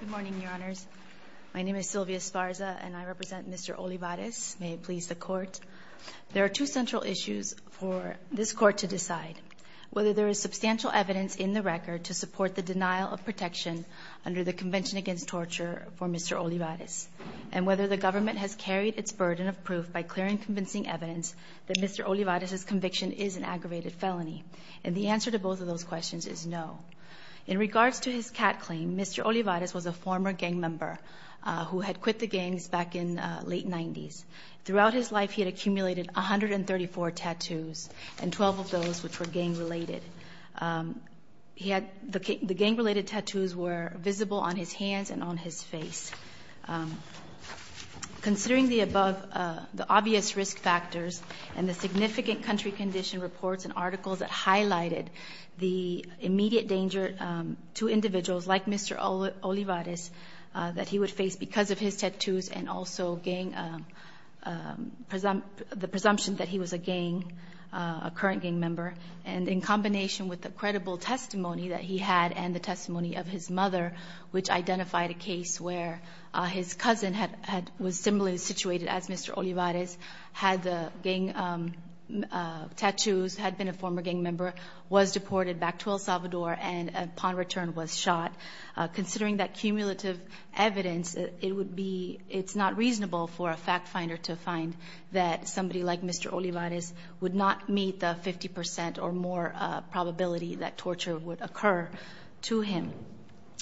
Good morning, Your Honors. My name is Sylvia Esparza and I represent Mr. Olivares. May it please the Court. There are two central issues for this Court to decide. Whether there is substantial evidence in the record to support the denial of protection under the Convention Against Torture for Mr. Olivares and whether the government has carried its burden of proof by clearing convincing evidence that Mr. Olivares' conviction is an aggravated felony. And the answer to both of those questions is no. In regards to his cat claim, Mr. Olivares was a former gang member who had quit the gangs back in late 90s. Throughout his life he had accumulated 134 tattoos and 12 of those which were gang-related. He had the gang-related tattoos were visible on his hands and on his face. Considering the above, the obvious risk factors and the significant country condition reports and articles that highlighted the immediate danger to individuals like Mr. Olivares that he would face because of his tattoos and also the presumption that he was a gang, a current gang member. And in combination with the credible testimony that he had and the testimony of his mother, which identified a case where his cousin was similarly situated as Mr. Olivares, had the gang tattoos, had been a former gang member, was deported back to El Salvador and upon return was shot. Considering that cumulative evidence, it would be, it's not reasonable for a fact finder to find that somebody like Mr. Olivares would not meet the 50% or more probability that torture would occur to him.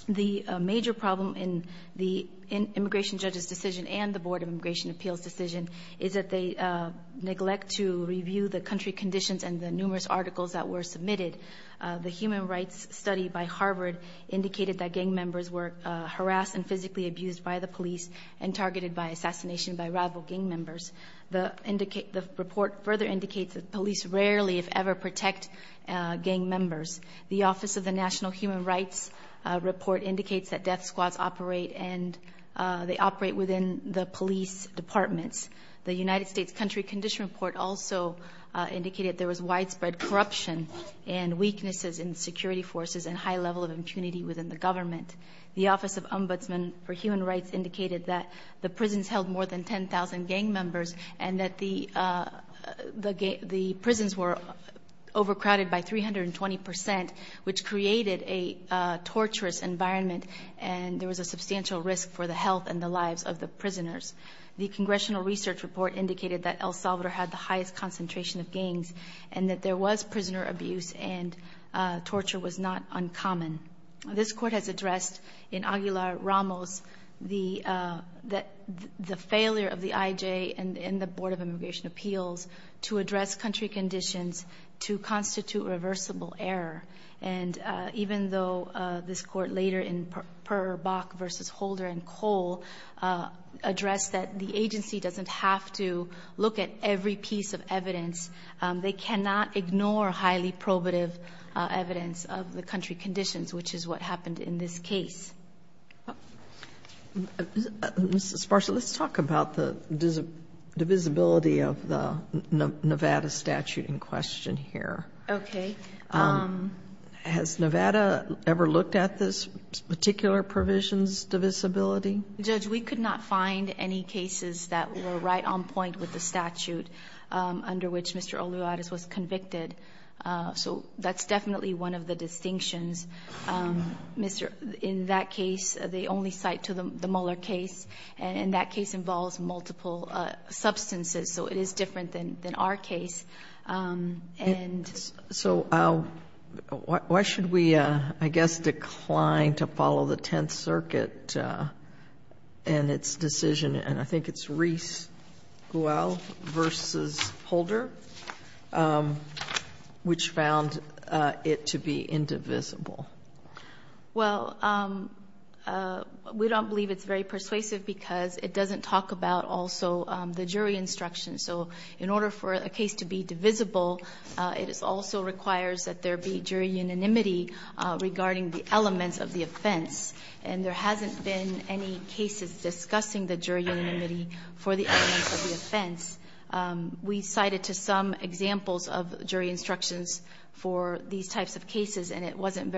The major problem in the Immigration Judges decision and the Board of Immigration Appeals decision is that they neglect to review the country conditions and the numerous articles that were submitted. The human rights study by Harvard indicated that gang members were harassed and physically abused by the police and targeted by assassination by rival gang members. The report further indicates that police rarely, if ever, protect gang members. The Office of the National Human Rights Office did not operate within the police departments. The United States Country Condition Report also indicated there was widespread corruption and weaknesses in security forces and high level of impunity within the government. The Office of Ombudsman for Human Rights indicated that the prisons held more than 10,000 gang members and that the prisons were overcrowded by 320%, which created a torturous environment and there was a substantial risk for the lives of the prisoners. The Congressional Research Report indicated that El Salvador had the highest concentration of gangs and that there was prisoner abuse and torture was not uncommon. This Court has addressed in Aguilar-Ramos the failure of the IJ and in the Board of Immigration Appeals to address country conditions to constitute reversible error. And even though this Court later in Burr, Bach v. Holder and Cole addressed that the agency doesn't have to look at every piece of evidence, they cannot ignore highly probative evidence of the country conditions, which is what happened in this case. Ms. Esparza, let's talk about the divisibility of the Nevada statute in question here. Okay. Has Nevada ever looked at this particular provision's divisibility? Judge, we could not find any cases that were right on point with the statute under which Mr. Olivares was convicted. So that's definitely one of the distinctions. In that case, the only cite to the Mueller case, and that case involves multiple substances, so it is different than our case. And so why should we, I guess, decline to follow the Tenth Circuit and its decision and I think it's Reese-Guell v. Holder, which found it to be indivisible? Well, we don't believe it's very persuasive because it doesn't talk about also the divisibility of the statute. It doesn't talk about the fact that it's indivisible. It also requires that there be jury unanimity regarding the elements of the offense. And there hasn't been any cases discussing the jury unanimity for the elements of the offense. We cited to some examples of jury instructions for these types of cases, and there's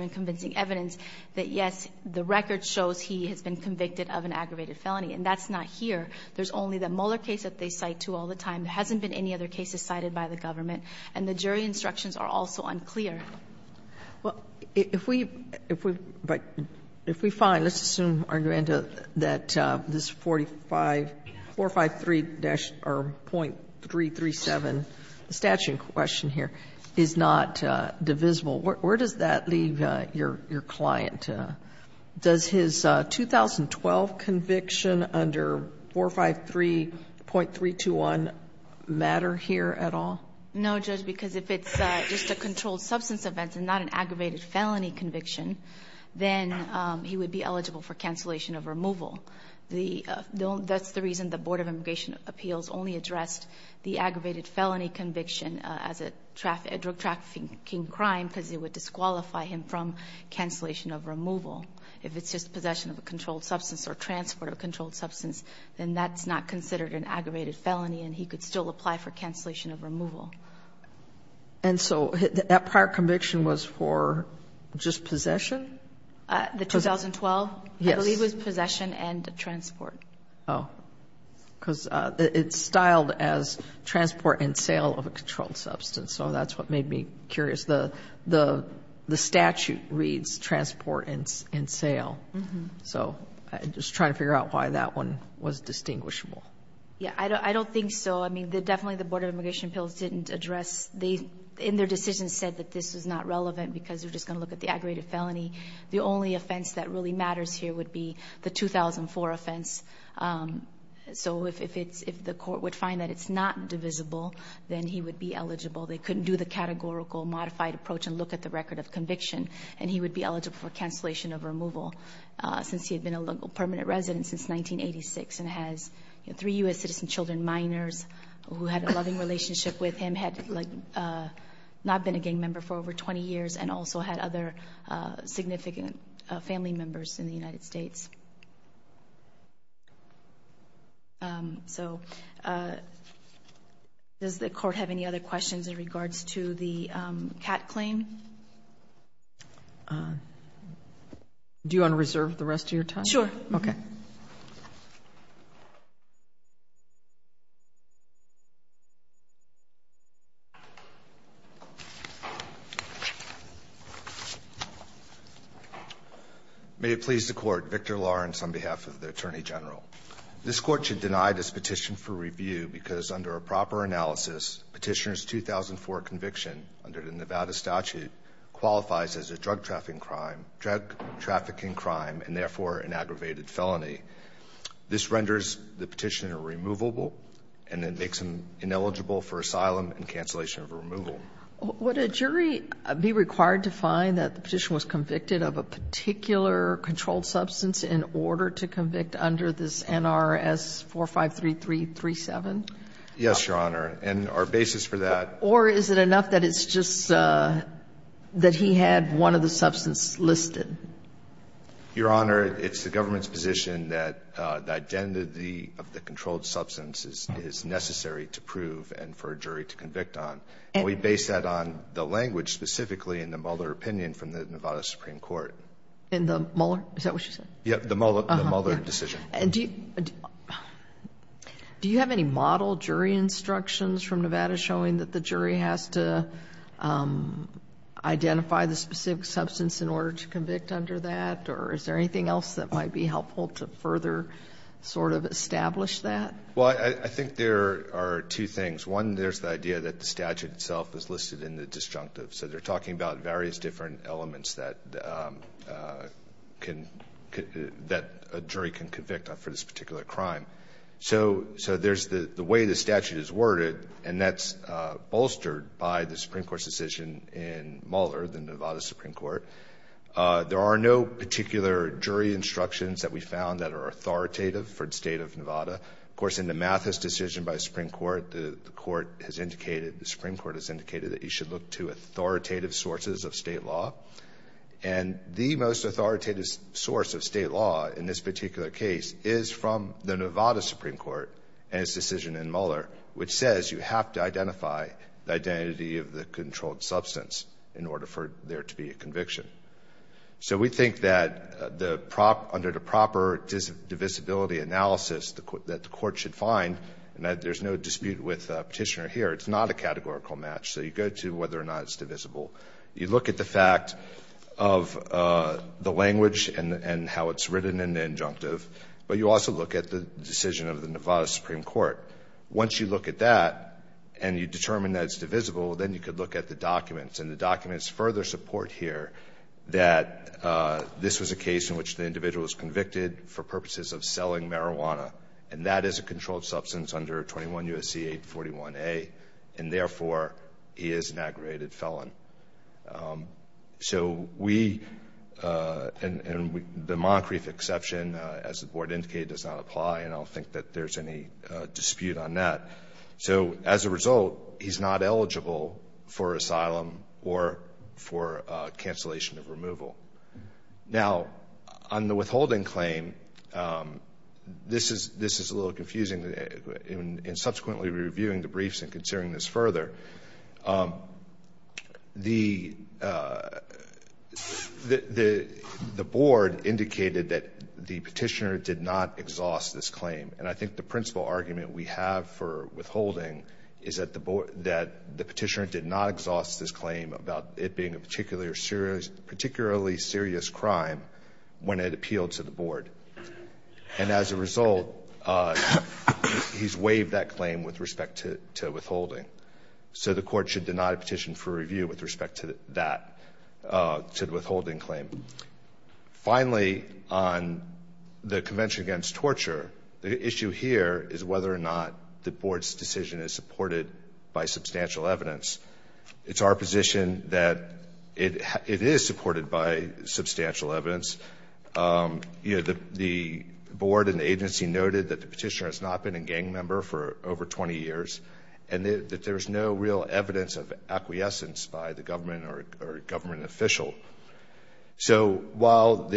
no convincing evidence that, yes, the record shows he has been convicted of an aggravated felony, and that's not here. There's only the Mueller case that they cite to all the time. There hasn't been any other cases cited by the government, and the jury instructions are also unclear. But if we find, let's assume, that this 453- or .337 statute question here is not indivisible, where does that leave your client? Does his 2012 conviction under 453.321 matter here at all? No, Judge, because if it's just a controlled substance event and not an aggravated felony conviction, then he would be eligible for cancellation of removal. That's the reason the Board of Immigration Appeals only addressed the aggravated felony conviction as a drug trafficking crime, because it would disqualify him from cancellation of removal. If it's just possession of a controlled substance or transport of a controlled substance, then that's not considered an aggravated felony, and he could still apply for cancellation of removal. And so that prior conviction was for just possession? The 2012? Yes. I believe it was possession and transport. Oh. Because it's styled as transport and sale of a controlled substance, so that's what made me curious. The statute reads transport and sale. So I'm just trying to figure out why that one was distinguishable. Yeah. I don't think so. I mean, definitely the Board of Immigration Appeals didn't address. They, in their decision, said that this is not relevant because we're just going to look at the aggravated felony. The only offense that really matters here would be the 2004 offense. So if the court would find that it's not divisible, then he would be eligible. They couldn't do the categorical modified approach and look at the record of conviction, and he would be eligible for cancellation of removal, since he had been a local permanent resident since 1986 and has three U.S. citizen children, minors, who had a loving relationship with him, had not been a gang member for over 20 years and also had other significant family members in the United States. So does the court have any other questions in regards to the CAT claim? Do you want to reserve the rest of your time? May it please the Court. Victor Lawrence on behalf of the Attorney General. This Court should deny this petition for review because under a proper analysis, Petitioner's 2004 conviction under the Nevada statute qualifies as a drug trafficking crime and therefore an aggravated felony. This renders the petitioner removable and it makes him ineligible for asylum and cancellation of removal. Would a jury be required to find that the petitioner was convicted of a particular controlled substance in order to convict under this NRS 453337? Yes, Your Honor, and our basis for that Or is it enough that it's just that he had one of the substances listed? Your Honor, it's the government's position that the identity of the controlled substance is necessary to prove and for a jury to convict on. We base that on the language specifically in the Mueller opinion from the Nevada Supreme Court. In the Mueller? Is that what you said? Yes, the Mueller decision. Do you have any model jury instructions from Nevada showing that the jury has to identify the specific substance in order to convict under that? Or is there anything else that might be helpful to further sort of establish that? Well, I think there are two things. One, there's the idea that the statute itself is listed in the disjunctive. So they're talking about various different elements that a jury can convict for this particular crime. So there's the way the statute is worded and that's bolstered by the Supreme Court's decision in Mueller, the Nevada Supreme Court. There are no particular jury instructions that we found that are authoritative for the state of Nevada. Of course, in the Mathis decision by the Supreme Court, the Supreme Court has indicated that you should look to authoritative sources of state law. And the most authoritative source of state law in this particular case is from the Nevada Supreme Court and its decision in Mueller, which says you have to identify the identity of the controlled substance in order for there to be a conviction. So we think that under the proper divisibility analysis that the court should find, and that there's no dispute with Petitioner here, it's not a categorical match. So you go to whether or not it's divisible. You look at the fact of the language and how it's written in the injunctive, but you also look at the decision of the Nevada Supreme Court. Once you look at that and you determine that it's divisible, then you could look at the documents. And the documents further support here that this was a case in which the individual was convicted for purposes of selling marijuana. And that is a controlled substance under 21 U.S.C. 841A. And therefore, he is an aggravated felon. So we, and the Moncrief exception, as the Board indicated, does not apply, and I don't think that there's any dispute on that. So as a result, he's not eligible for asylum or for cancellation of removal. Now, on the withholding claim, this is a little confusing. In subsequently reviewing the briefs and considering this further, the Board indicated that the Petitioner did not exhaust this claim. And I think the principal argument we have for withholding is that the Petitioner did not exhaust this claim about it being a particularly serious crime when it appealed to the Board. And as a result, he's waived that claim with respect to withholding. So the Court should deny a petition for review with respect to that, to the withholding claim. Finally, on the Convention Against Torture, the issue here is whether or not the Board's decision is supported by substantial evidence. It's our position that it is supported by substantial evidence. The Board and the agency noted that the Petitioner has not been a gang member for over 20 years and that there's no real evidence of acquiescence by the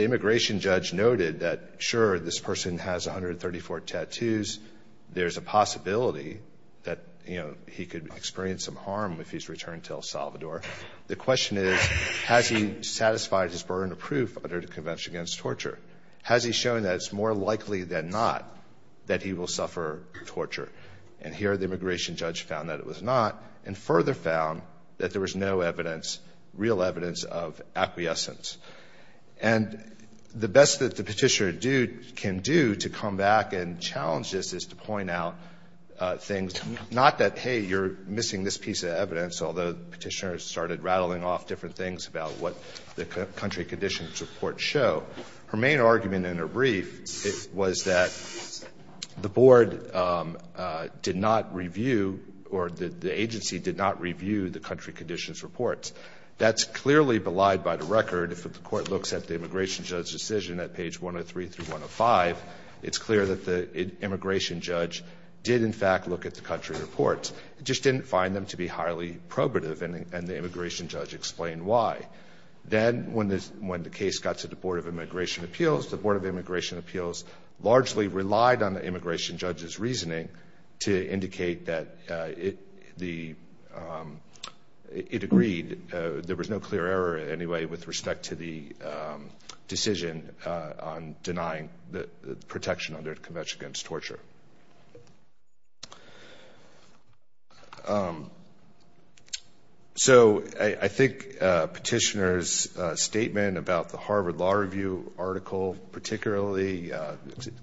immigration judge noted that, sure, this person has 134 tattoos. There's a possibility that he could experience some harm if he's returned to El Salvador. The question is, has he satisfied his burden of proof under the Convention Against Torture? Has he shown that it's more likely than not that he will suffer torture? And here the immigration judge found that it was not and further found that there was no evidence, real evidence, of acquiescence. And the best that the Petitioner can do to come back and challenge this is to point out things, not that, hey, you're missing this piece of evidence, although the Petitioner started rattling off different things about what the country conditions report show. Her main argument in her brief was that the Board did not review or the agency did not review the country conditions reports. That's clearly belied by the record. If the Court looks at the immigration judge's decision at page 103 through 105, it's clear that the immigration judge did, in fact, look at the country reports. It just didn't find them to be highly probative and the immigration judge explained why. Then when the case got to the Board of Immigration Appeals, the Board of Immigration Appeals, it agreed. There was no clear error anyway with respect to the decision on denying the protection under Convention Against Torture. So I think Petitioner's statement about the Harvard Law Review article, particularly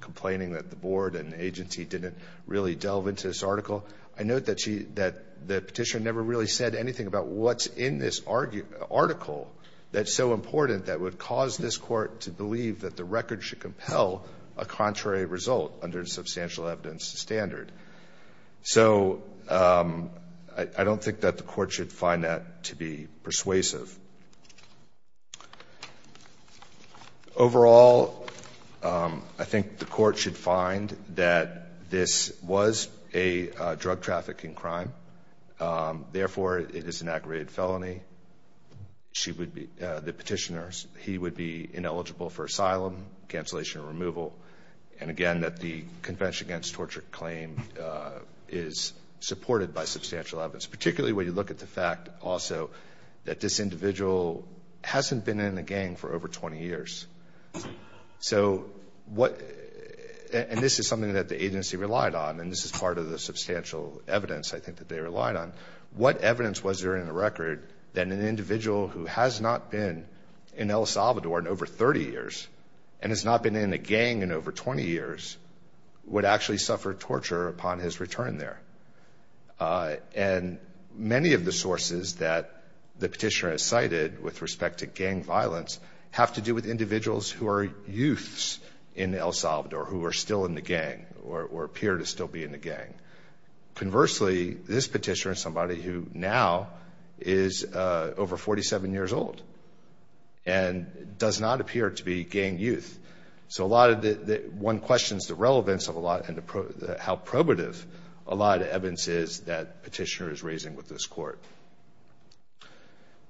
complaining that the Board and agency didn't really delve into this article, I note that she, that the Petitioner never really said anything about what's in this article that's so important that would cause this Court to believe that the record should compel a contrary result under the Substantial Evidence Standard. So I don't think that the Court should find that to be persuasive. Overall, I think the Court should find that this was a drug trafficking crime. Therefore, it is an aggravated felony. She would be, the Petitioner, he would be ineligible for asylum, cancellation of removal, and again, that the Convention Against Torture claim is supported by substantial evidence, particularly when you look at the fact also that this individual hasn't been in a gang for over 20 years. So what, and this is something that the agency relied on, and this is part of the substantial evidence, I think, that they relied on. What evidence was there in the record that an individual who has not been in El Salvador in over 30 years and has not been in a gang in over 20 years would actually suffer torture upon his return there? And many of the sources that the Petitioner has cited with respect to gang violence have to do with individuals who are youths in El Salvador who are still in the gang or appear to still be in the gang. Conversely, this Petitioner is somebody who now is over 47 years old and does not appear to be gang youth. So a lot of the, one questions the relevance of a lot and how probative a lot of evidence is that Petitioner is raising with this Court.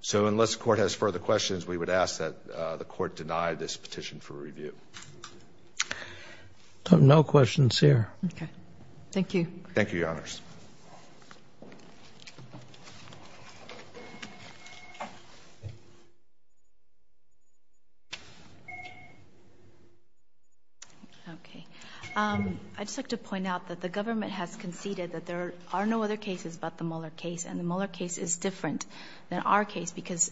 So unless the Court has further questions, we would ask that the Court deny this petition for review. No questions here. Okay. Thank you. Thank you, Your Honors. Okay. I'd just like to point out that the government has conceded that there are no other cases but the Mueller case. And the Mueller case is different than our case because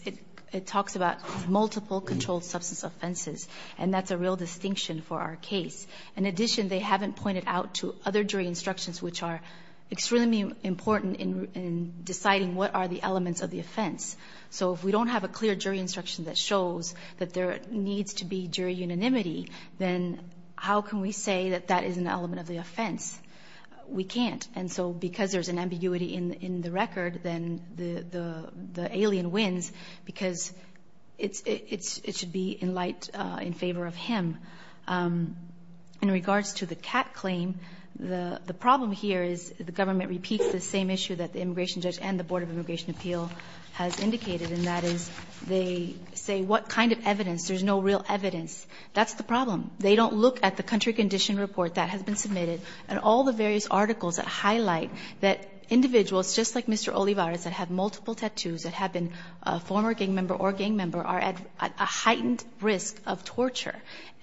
it talks about multiple controlled substance offenses. And that's a real distinction for our case. In addition, they haven't pointed out to other jury instructions which are exactly the same as the Mueller case. So the Mueller case is different. It's extremely important in deciding what are the elements of the offense. So if we don't have a clear jury instruction that shows that there needs to be jury unanimity, then how can we say that that is an element of the offense? We can't. And so because there's an ambiguity in the record, then the alien wins because it should be in light in favor of him. In regards to the cat claim, the problem here is the government repeats the same issue that the immigration judge and the Board of Immigration Appeal has indicated, and that is they say what kind of evidence? There's no real evidence. That's the problem. They don't look at the country condition report that has been submitted and all the various articles that highlight that individuals just like Mr. Olivares that have been in the country for 20 years,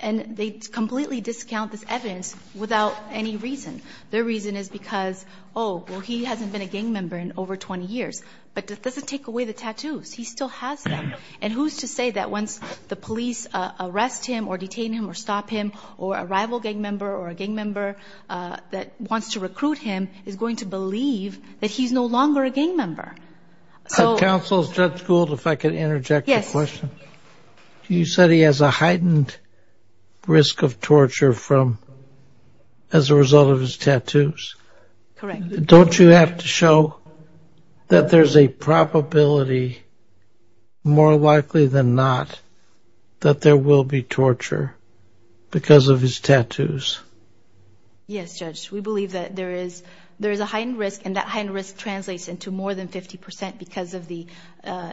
and they completely discount this evidence without any reason. Their reason is because, oh, well, he hasn't been a gang member in over 20 years. But that doesn't take away the tattoos. He still has them. And who's to say that once the police arrest him or detain him or stop him or a rival gang member or a gang member that wants to recruit him is going to believe that he's no longer a gang member? Counsel, is Judge Gould, if I could interject a question? Yes. You said he has a heightened risk of torture as a result of his tattoos. Correct. Don't you have to show that there's a probability, more likely than not, that there will be torture because of his tattoos? Yes, Judge. We believe that there is a heightened risk, and that heightened risk translates into more than 50 percent because of the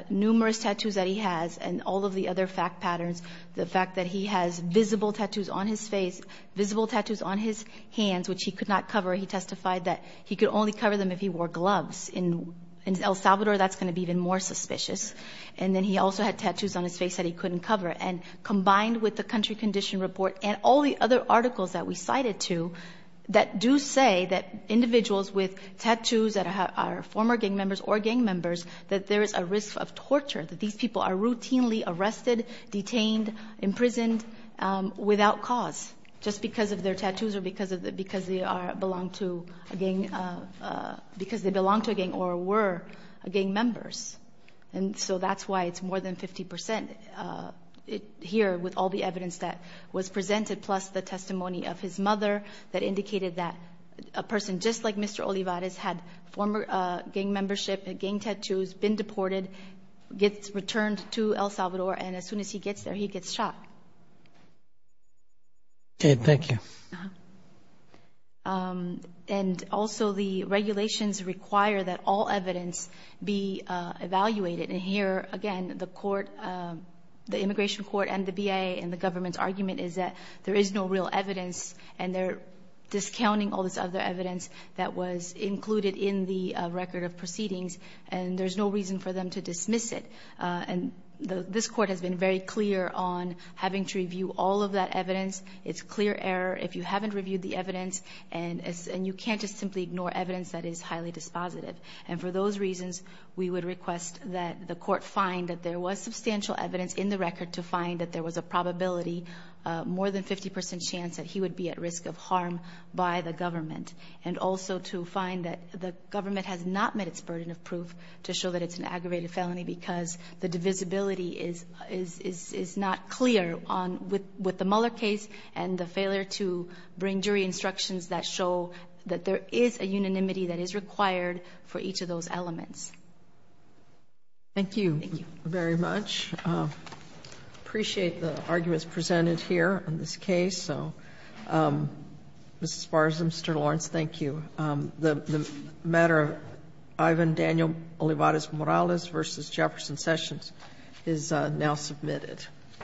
numerous tattoos that he has and all of the other fact patterns. The fact that he has visible tattoos on his face, visible tattoos on his hands, which he could not cover. He testified that he could only cover them if he wore gloves. In El Salvador, that's going to be even more suspicious. And then he also had tattoos on his face that he couldn't cover. And combined with the country condition report and all the other articles that we cited to that do say that individuals with tattoos that are former gang members or gang members, that there is a risk of torture, that these people are routinely arrested, detained, imprisoned without cause just because of their tattoos or because they belong to a gang or were gang members. And so that's why it's more than 50 percent here with all the evidence that was presented, plus the testimony of his mother that indicated that a person just like Mr. Olivares had former gang membership, gang tattoos, been deported, gets returned to El Salvador, and as soon as he gets there, he gets shot. Okay. Thank you. And also the regulations require that all evidence be evaluated. And here, again, the immigration court and the BIA and the government's argument is that there is no real evidence, and they're discounting all this other evidence that was included in the record of proceedings, and there's no reason for them to dismiss it. And this court has been very clear on having to review all of that evidence. It's clear error if you haven't reviewed the evidence, and you can't just simply ignore evidence that is highly dispositive. And for those reasons, we would request that the court find that there was substantial evidence in the record to find that there was a probability, more than 50 percent chance that he would be at risk of harm by the government, and also to find that the government has not met its burden of proof to show that it's an aggravated felony because the divisibility is not clear with the Mueller case and the failure to bring jury instructions that show that there is a unanimity that is required for each of those elements. Thank you. Thank you. Thank you very much. I appreciate the arguments presented here on this case. So, Ms. Spars, Mr. Lawrence, thank you. The matter of Ivan Daniel Olivares-Morales v. Jefferson Sessions is now submitted.